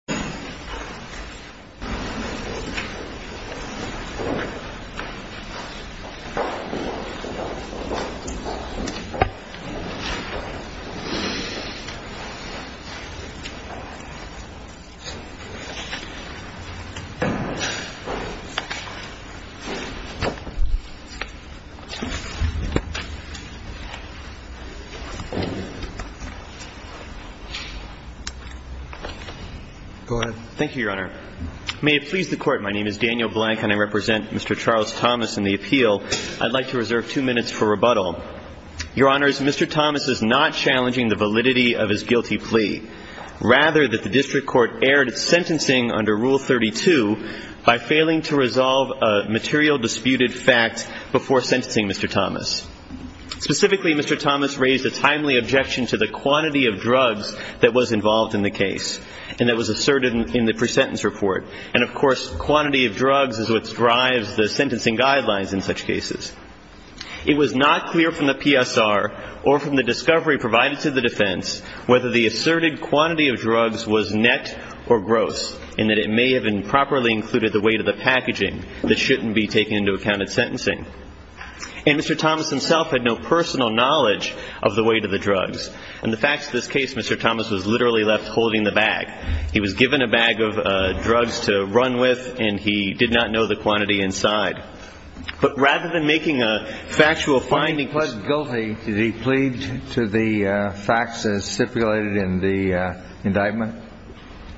Moore, on his way to spoke in a three part audio take on this heartbreaking event. Go ahead. Thank you, Your Honor. May it please the court. My name is Daniel Blank and I represent Mr. Charles Thomas in the appeal. I'd like to reserve two minutes for rebuttal. Your honors, Mr. Thomas is not challenging the validity of his guilty plea, rather that the district court erred at sentencing under Rule 32 by failing to resolve a material disputed fact before sentencing Mr. Thomas. Specifically, Mr. Thomas raised a timely objection to the quantity of drugs that was involved in the case. And that was asserted in the pre-sentence report. And of course, quantity of drugs is what drives the sentencing guidelines in such cases. It was not clear from the PSR or from the discovery provided to the defense whether the asserted quantity of drugs was net or gross and that it may have improperly included the weight of the packaging that shouldn't be taken into account at sentencing. And Mr. Thomas himself had no personal knowledge of the weight of the drugs. And the facts of this case, Mr. Thomas was literally left holding the bag. He was given a bag of drugs to run with, and he did not know the quantity inside. But rather than making a factual finding. When he pled guilty, did he plead to the facts that are stipulated in the indictment?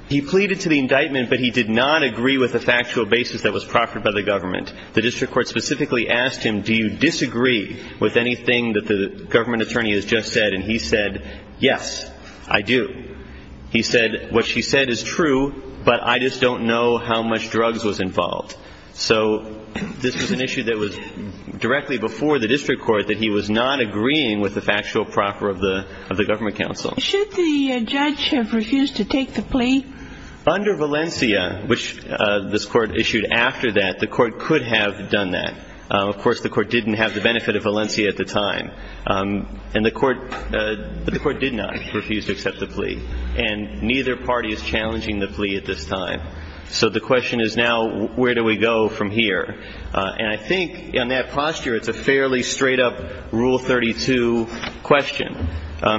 He pleaded to the indictment, but he did not agree with the factual basis that was proffered by the government. The district court specifically asked him, do you disagree with anything that the government attorney has just said? And he said, yes, I do. He said, what she said is true, but I just don't know how much drugs was involved. So this was an issue that was directly before the district court that he was not agreeing with the factual proper of the government counsel. Should the judge have refused to take the plea? Under Valencia, which this court issued after that, the court could have done that. Of course, the court didn't have the benefit of Valencia at the time. And the court did not refuse to accept the plea. And neither party is challenging the plea at this time. So the question is now, where do we go from here? And I think in that posture, it's a fairly straight up Rule 32 question.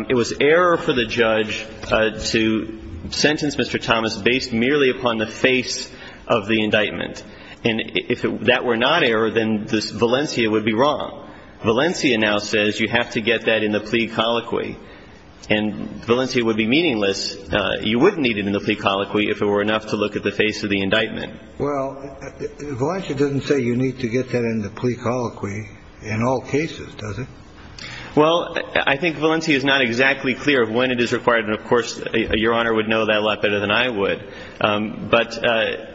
It was error for the judge to sentence Mr. Thomas based merely upon the face of the indictment. And if that were not error, then this Valencia would be wrong. Valencia now says you have to get that in the plea colloquy and Valencia would be meaningless. You wouldn't need it in the plea colloquy if it were enough to look at the face of the indictment. Well, Valencia doesn't say you need to get that in the plea colloquy in all cases, does it? Well, I think Valencia is not exactly clear of when it is required. And of course, Your Honor would know that a lot better than I would. But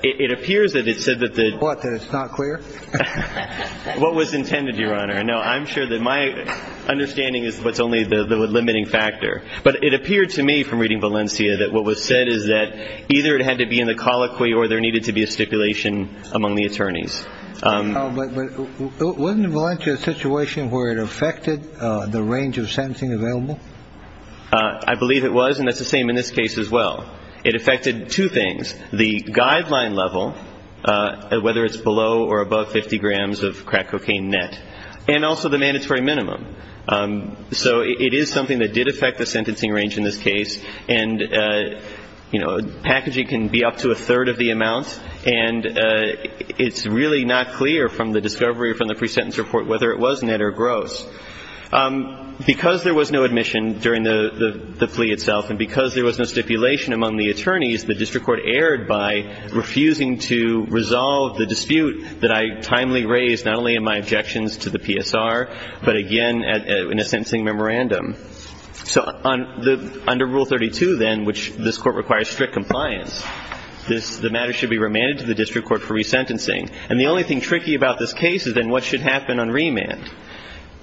it appears that it said that the. What, that it's not clear? What was intended, Your Honor? No, I'm sure that my understanding is what's only the limiting factor. But it appeared to me from reading Valencia that what was said is that either it had to be in the colloquy or there needed to be a stipulation among the attorneys. But wasn't Valencia a situation where it affected the range of sentencing available? I believe it was. And that's the same in this case as well. It affected two things. The guideline level, whether it's below or above 50 grams of crack cocaine net and also the mandatory minimum. So it is something that did affect the sentencing range in this case. And, you know, packaging can be up to a third of the amount. And it's really not clear from the discovery from the pre-sentence report whether it was net or gross. Because there was no admission during the plea itself and because there was no stipulation among the attorneys, the district court erred by refusing to resolve the dispute that I timely raised not only in my objections to the PSR, but again, in a sentencing memorandum. So under Rule 32, then, which this court requires strict compliance, the matter should be remanded to the district court for resentencing. And the only thing tricky about this case is then what should happen on remand.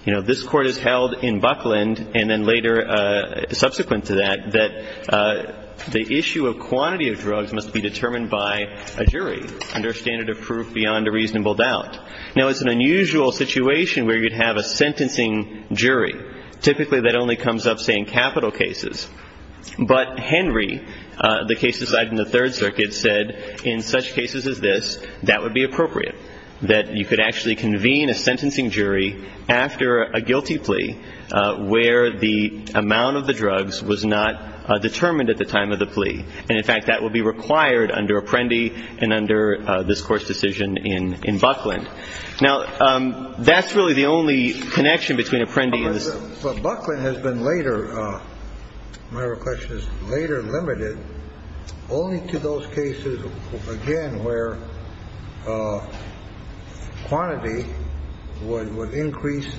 You know, this court is held in Buckland and then later subsequent to that, that the issue of quantity of drugs must be determined by a jury under a standard of proof beyond a reasonable doubt. Now, it's an unusual situation where you'd have a sentencing jury. Typically, that only comes up, say, in capital cases. But Henry, the case decided in the Third Circuit, said in such cases as this, that would be appropriate. That you could actually convene a sentencing jury after a guilty plea where the amount of the drugs was not determined at the time of the plea. And in fact, that will be required under Apprendi and under this court's decision in Buckland. Now, that's really the only connection between Apprendi and this. But Buckland has been later, my request is, later limited only to those cases, again, where quantity would increase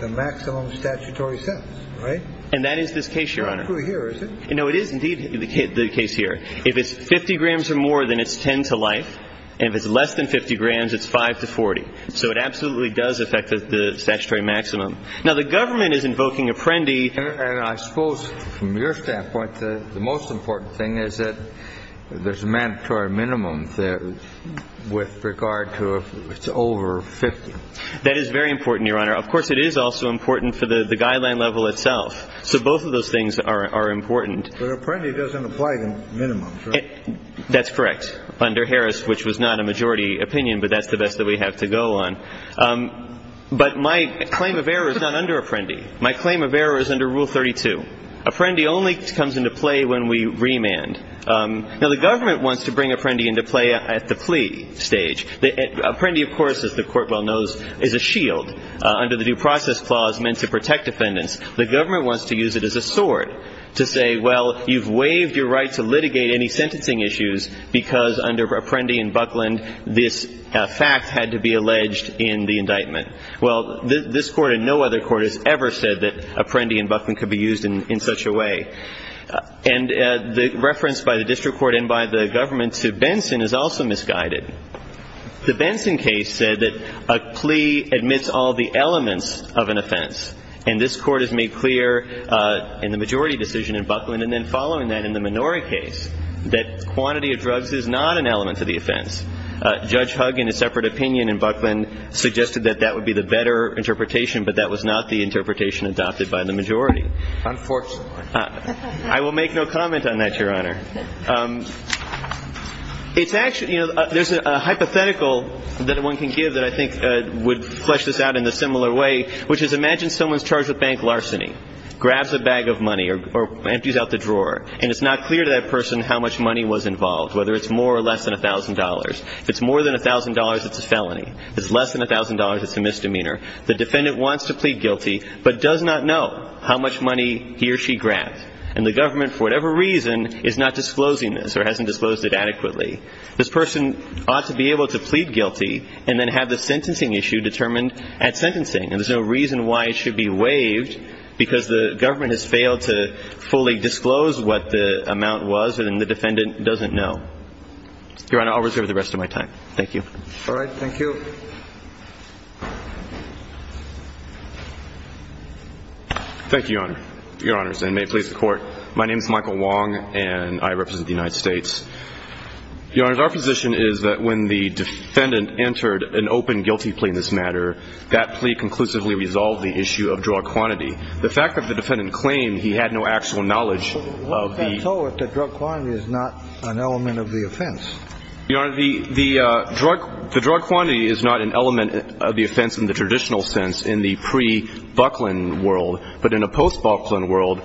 the maximum statutory sentence, right? And that is this case, Your Honor. It's true here, is it? No, it is indeed the case here. If it's 50 grams or more, then it's 10 to life. And if it's less than 50 grams, it's 5 to 40. So it absolutely does affect the statutory maximum. Now, the government is invoking Apprendi. And I suppose, from your standpoint, the most important thing is that there's a mandatory minimum there with regard to if it's over 50. That is very important, Your Honor. Of course, it is also important for the guideline level itself. So both of those things are important. But Apprendi doesn't apply to minimums, right? That's correct, under Harris, which was not a majority opinion. But that's the best that we have to go on. But my claim of error is not under Apprendi. My claim of error is under Rule 32. Apprendi only comes into play when we remand. Now, the government wants to bring Apprendi into play at the plea stage. Apprendi, of course, as the Court well knows, is a shield. Under the Due Process Clause, meant to protect defendants, the government wants to use it as a sword to say, well, you've waived your right to litigate any sentencing issues because under Apprendi and Buckland, this fact had to be alleged in the indictment. Well, this Court and no other court has ever said that Apprendi and Buckland could be used in such a way. And the reference by the district court and by the government to Benson is also misguided. The Benson case said that a plea admits all the elements of an offense. And this Court has made clear in the majority decision in Buckland, and then following that in the Minori case, that quantity of drugs is not an element to the offense. Judge Huggin, in a separate opinion in Buckland, suggested that that would be the better interpretation, but that was not the interpretation adopted by the majority. Unfortunately. I will make no comment on that, Your Honor. It's actually, you know, there's a hypothetical that one can give that I think would flesh this out in a similar way, which is imagine someone's charged with bank larceny, grabs a bag of money, or empties out the drawer, and it's not clear to that person how much money was involved, whether it's more or less than $1,000. If it's more than $1,000, it's a felony. If it's less than $1,000, it's a misdemeanor. The defendant wants to plead guilty, but does not know how much money he or she grabbed. And the government, for whatever reason, is not disclosing this, or hasn't disclosed it adequately. This person ought to be able to plead guilty, and then have the sentencing issue determined at sentencing. And there's no reason why it should be waived, because the government has failed to fully disclose what the amount was, and then the defendant doesn't know. Your Honor, I'll reserve the rest of my time. Thank you. All right. Thank you. Thank you, Your Honor. Your Honors, and may it please the court. My name is Michael Wong, and I represent the United States. Your Honors, our position is that when the defendant entered an open guilty plea in this matter, that plea conclusively resolved the issue of drug quantity. The fact that the defendant claimed he had no actual knowledge of the- What does that tell us that drug quantity is not an element of the offense? Your Honor, the drug quantity is not an element of the offense in the traditional sense in the pre-Bucklin world. But in a post-Bucklin world,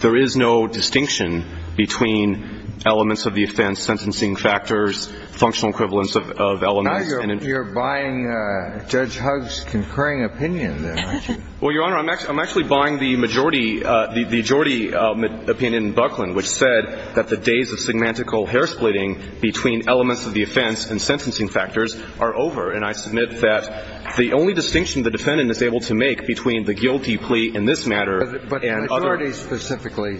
there is no distinction between elements of the offense, sentencing factors, functional equivalence of elements. Now you're buying Judge Hugg's concurring opinion, then, aren't you? Well, Your Honor, I'm actually buying the majority opinion in Bucklin, which said that the days of semantical hair-splitting between elements of the offense and sentencing factors are over. And I submit that the only distinction the defendant is able to make between the guilty plea in this matter and other- But the majority specifically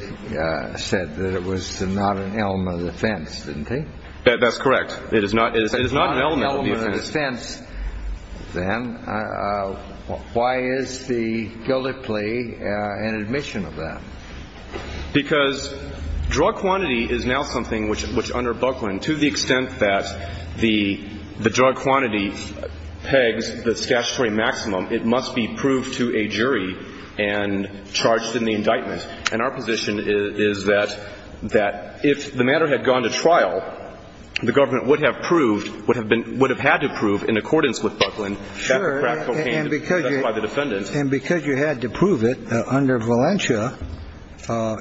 said that it was not an element of the offense, didn't they? That's correct. It is not an element of the offense. If it's not an element of the offense, then why is the guilty plea an admission of that? Because drug quantity is now something which, under Bucklin, to the extent that the drug quantity pegs the statutory maximum, it must be proved to a jury and charged in the indictment. And our position is that if the matter had gone to trial, the government would have proved, would have had to prove, in accordance with Bucklin, that the crack cocaine was done by the defendant. And because you had to prove it under Valencia,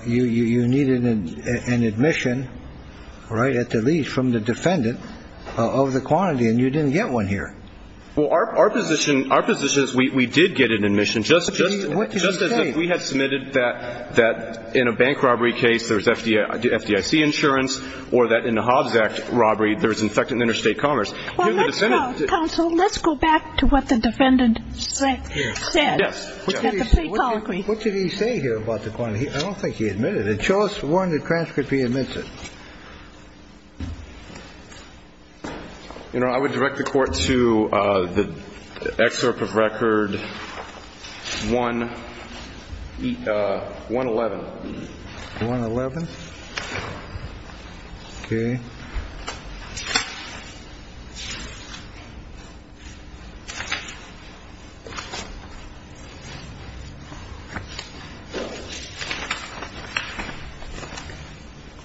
you needed an admission, right, at the least, from the defendant of the quantity, and you didn't get one here. Well, our position is we did get an admission, just as if we had submitted that in a bank robbery case, there's FDIC insurance, or that in a Hobbs Act robbery, there's infected interstate commerce. Well, let's go, counsel. Let's go back to what the defendant said, at the point of the record. What did he say here about the quantity? I don't think he admitted it. Show us one that transcripts he admits it. You know, I would direct the court to the excerpt of record 111. 111? Okay.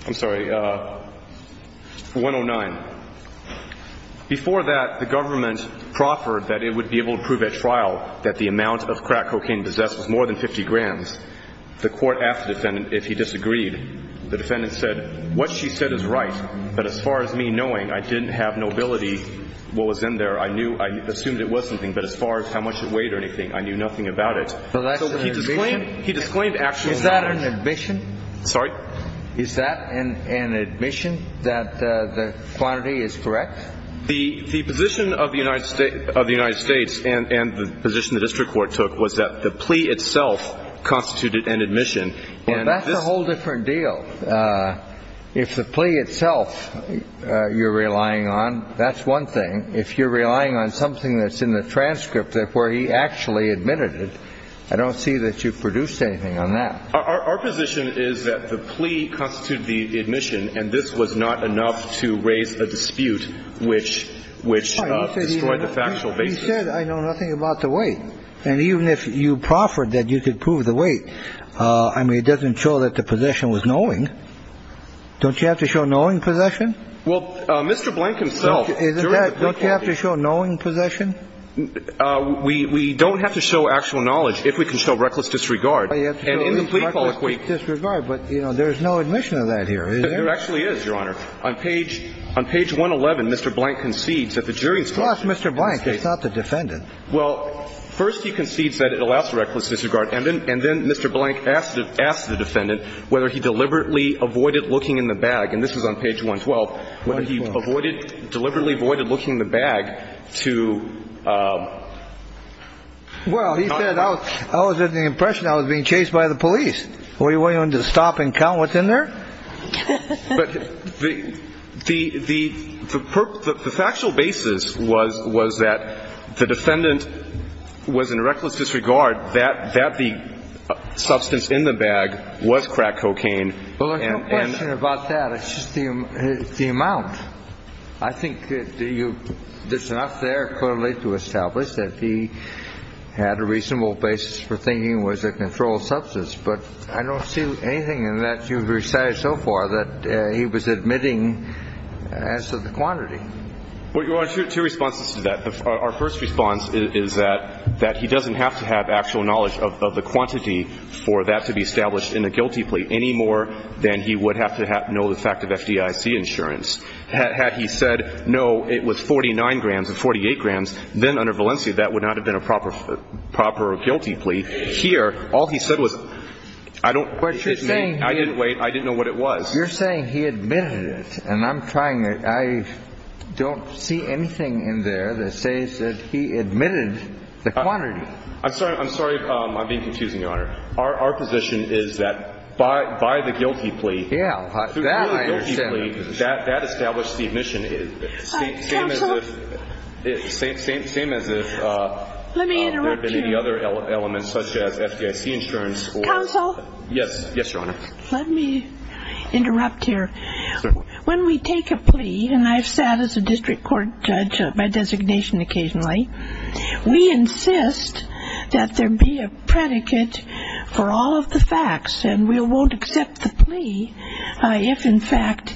I'm sorry, 109. Before that, the government proffered that it would be able to prove at trial that the amount of crack cocaine possessed was more than 50 grams. The court asked the defendant if he disagreed. The defendant said, what she said is right, but as far as me knowing, I didn't have no ability, what was in there, I knew, I assumed it was something, but as far as how much it weighed or anything, I knew nothing about it. So that's an admission? He disclaimed actual knowledge. Is that an admission? Sorry? Is that an admission that the quantity is correct? The position of the United States and the position the district court took was that the plea itself constituted an admission. And that's a whole different deal. So if the plea itself you're relying on, that's one thing. If you're relying on something that's in the transcript where he actually admitted it, I don't see that you produced anything on that. Our position is that the plea constituted the admission and this was not enough to raise a dispute which destroyed the factual basis. You said I know nothing about the weight. And even if you proffered that you could prove the weight, I mean, it doesn't show that the plaintiff is wrong. Don't you have to show knowing possession? Well, Mr. Blank himself. Don't you have to show knowing possession? We don't have to show actual knowledge if we can show reckless disregard. But there's no admission of that here, is there? There actually is, Your Honor. On page 111, Mr. Blank concedes that the jury's fault. Well, ask Mr. Blank. It's not the defendant. Well, first he concedes that it allows reckless disregard and then Mr. Blank asks the defendant whether he deliberately avoided looking in the bag. And this is on page 112. Whether he avoided, deliberately avoided looking in the bag to Well, he said I was under the impression I was being chased by the police. Were you willing to stop and count what's in there? But the factual basis was that the defendant was in reckless disregard that the substance in the bag was crack cocaine. Well, there's no question about that. It's just the amount. I think there's enough there clearly to establish that he had a reasonable basis for thinking it was a controlled substance. But I don't see anything in that you've recited so far that he was admitting as to the quantity. Well, your Honor, two responses to that. Our first response is that he doesn't have to have actual knowledge of the quantity for that to be sufficient. He doesn't have to be established in a guilty plea any more than he would have to know the fact of FDIC insurance. Had he said no, it was 49 grams or 48 grams, then under Valencia that would not have been a proper guilty plea. Here, all he said was I don't I didn't wait. I didn't know what it was. You're saying he admitted it. And I'm trying. I don't see anything in there that says that he admitted the quantity. I'm sorry. I'm being confusing, Your Honor. Our position is that by the guilty plea, that established the admission. Same as if there had been any other elements such as FDIC insurance. Counsel? Yes, Your Honor. Let me interrupt here. When we take a plea, and I've sat as a district court judge by designation occasionally, we insist that there be a predicate for all of the facts, and we won't accept the plea if, in fact,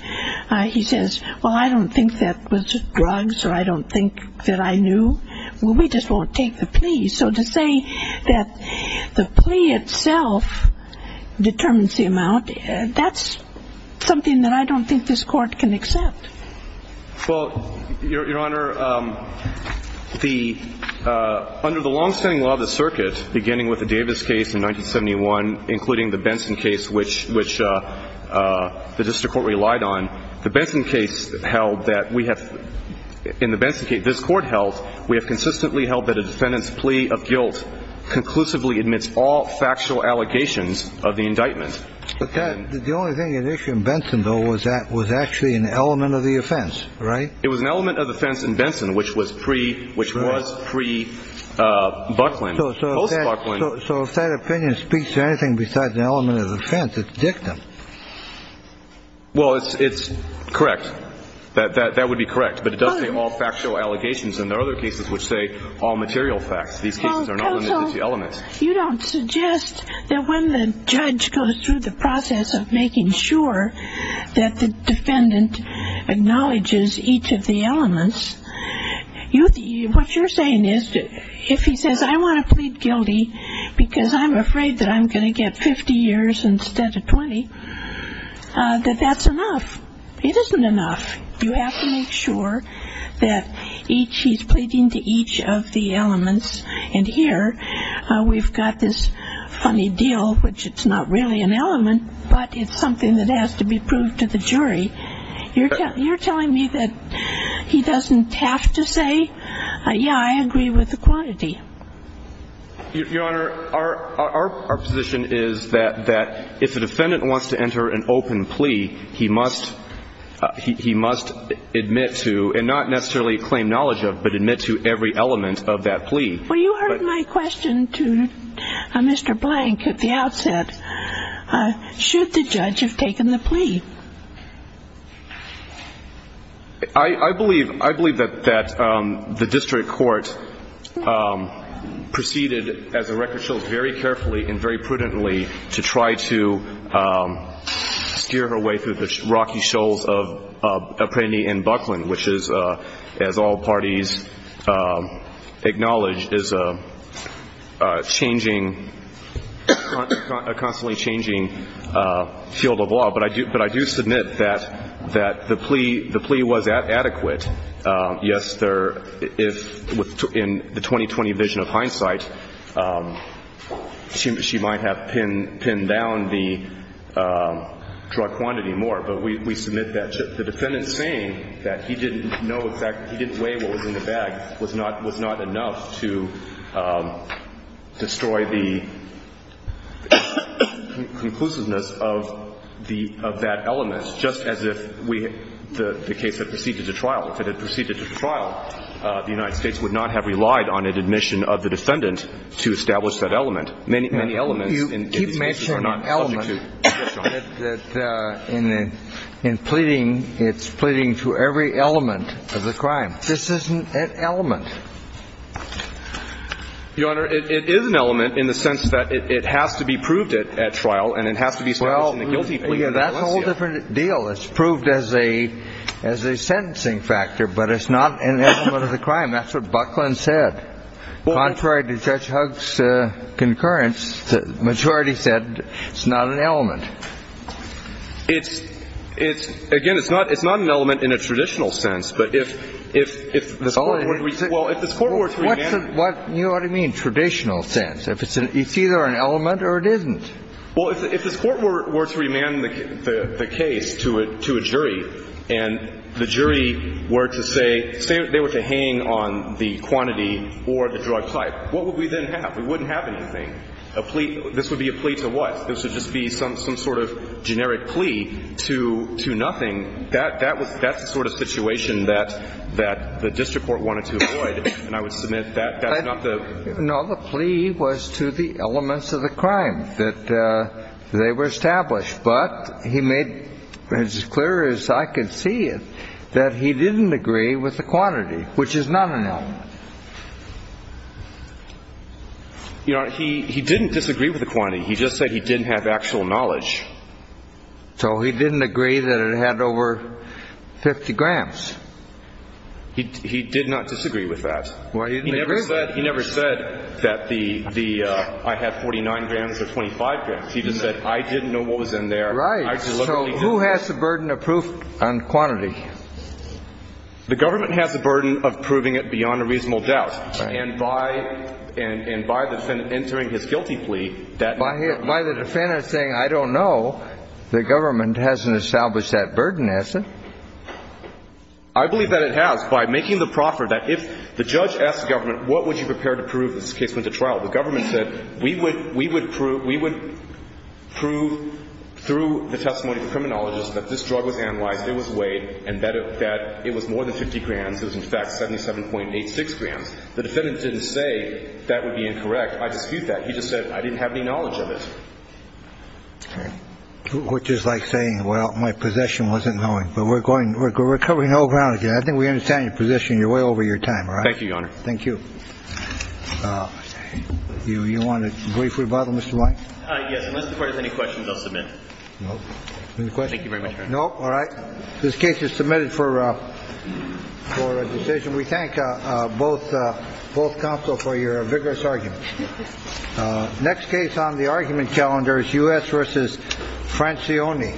he says, well, I don't think that was drugs or I don't think that I knew. We just won't take the plea. So to say that the plea itself determines the amount, that's something that I don't think this court can accept. Well, Your Honor, under the long-standing law of the circuit beginning with the Davis case in 1971, including the Benson case, which the district court relied on, the Benson case held that we have, in the Benson case this court held, we have consistently held that a defendant's plea of guilt conclusively admits all factual allegations of the indictment. But the only thing at issue in Benson, though, was actually an element of the offense, right? It was an element of the offense in Benson, which was pre-Buckland. So if that opinion speaks to anything besides an element of the offense, it's dictum. Well, it's correct. That would be correct. But it does say all factual allegations, and there are other cases which say all material facts. These cases are not limited to elements. Counsel, you don't suggest that when the judge goes through the process of making sure that the defendant acknowledges each of the elements, what you're saying is, if he says, I want to plead guilty because I'm afraid that I'm going to get 50 years instead of 20, that that's enough. It isn't enough. You have to make sure that each he's pleading to each of the elements. And here, we've got this funny deal, which it's not really an element, but it's something that I agree with you. I agree with you. I agree with you. I agree with you. I agree with you. I agree with you. I agree with you. I agree with you. I agree with you. We agree with the quantity. Your Honor, our position is that if a defendant wants to enter an open plea, he must admit to and not necessarily claim knowledge of, but admit to every element of that plea. Well, you heard my question to Mr. Blank at the outset. Should the judge have taken the plea? I believe that the district court proceeded, as the record shows, very carefully and very prudently to try to steer her way through the rocky shoals of Appreny and Buckland, which is, as all parties acknowledge, is a changing, a constantly changing field of law. But I do submit that the plea was adequate. Yes, there, if, in the 2020 vision of hindsight, she might have pinned down the drug quantity more, but we submit that. The defendant saying that he didn't know exactly, he didn't weigh what was in the bag was not enough to destroy the conclusiveness of that element, just as if we, the case that the defendant had proceeded to trial, the United States would not have relied on an admission of the defendant to establish that element. Many elements in these cases are not subject to discretion. You keep mentioning element. Yes, Your Honor. In pleading, it's pleading to every element of the crime. This isn't an element. Your Honor, it is an element in the sense that it has to be proved at trial and it has to be factor. It's proved as a sentencing factor. It's proved as a sentencing factor. It's proved as a sentencing factor. It's proved as a sentencing factor. But it's not an element of the crime. That's what Buckland said. Contrary to Judge Hugg's concurrence, the majority said it's not an element. It's, again, it's not an element in a traditional sense. But if this Court were to amend... What do you mean, traditional sense? It's either an element or it an element, then it is an element. If the jury were to deem it not to be an element, then it is an element. If the jury were to say... If they were to hang on the quantity or the drug type, what would we then have? We wouldn't have anything. A plea? This would be a plea to what? This would just be some sort of generic plea to nothing? That's the sort of situation that the district court wanted to avoid. And I would submit that's not the... No. The plea was to the elements of But he made, as clear as I could see it, that he didn't agree with the crime. And the district court said, well, you know, it's a quantity, which is not an element. You know, he didn't disagree with the quantity. He just said he didn't have actual knowledge. So he didn't agree that it had over 50 grams. He did not disagree with that. Well, he didn't agree with it. He never said that the... I had 49 grams or 25 grams. He just said, I didn't know The jury. The jury. The jury. The jury. The jury. The jury. The jury. The jury. The jury. The jury. The jury. The government has the burden of proving it beyond a reasonable doubt. And by... And by the defendant entering his guilty plea, that... By the defendant saying, I don't know, the government hasn't established that burden, has it? I believe that it has. By making the proffer that if the judge asked the government, what would you prepare to prove if this case went to trial? The government said, we would I don't know. I don't know. I don't know. I don't know. I don't know. I don't know. I don't know. I don't know. didn't say that it would be incorrect. 50 grand, so it's in fact 77.86 grand. That defendant didn't say that would be incorrect. I dispute that. He just said, I didn't have any knowledge of it. Which is like saying, well, my position wasn't going, but we're going... We're covering... I think we understand your position. You're way over your time, all right? Thank you, Your Honor. Thank you. You want a brief rebuttal, Mr. Mike? Yes. Unless the court has any questions, I'll submit. No. Any questions? Thank you very much, Your Honor. No? All right. This case is submitted for a decision. We thank both counsel for your vigorous argument. Next case on the argument calendar is U.S. versus Francione.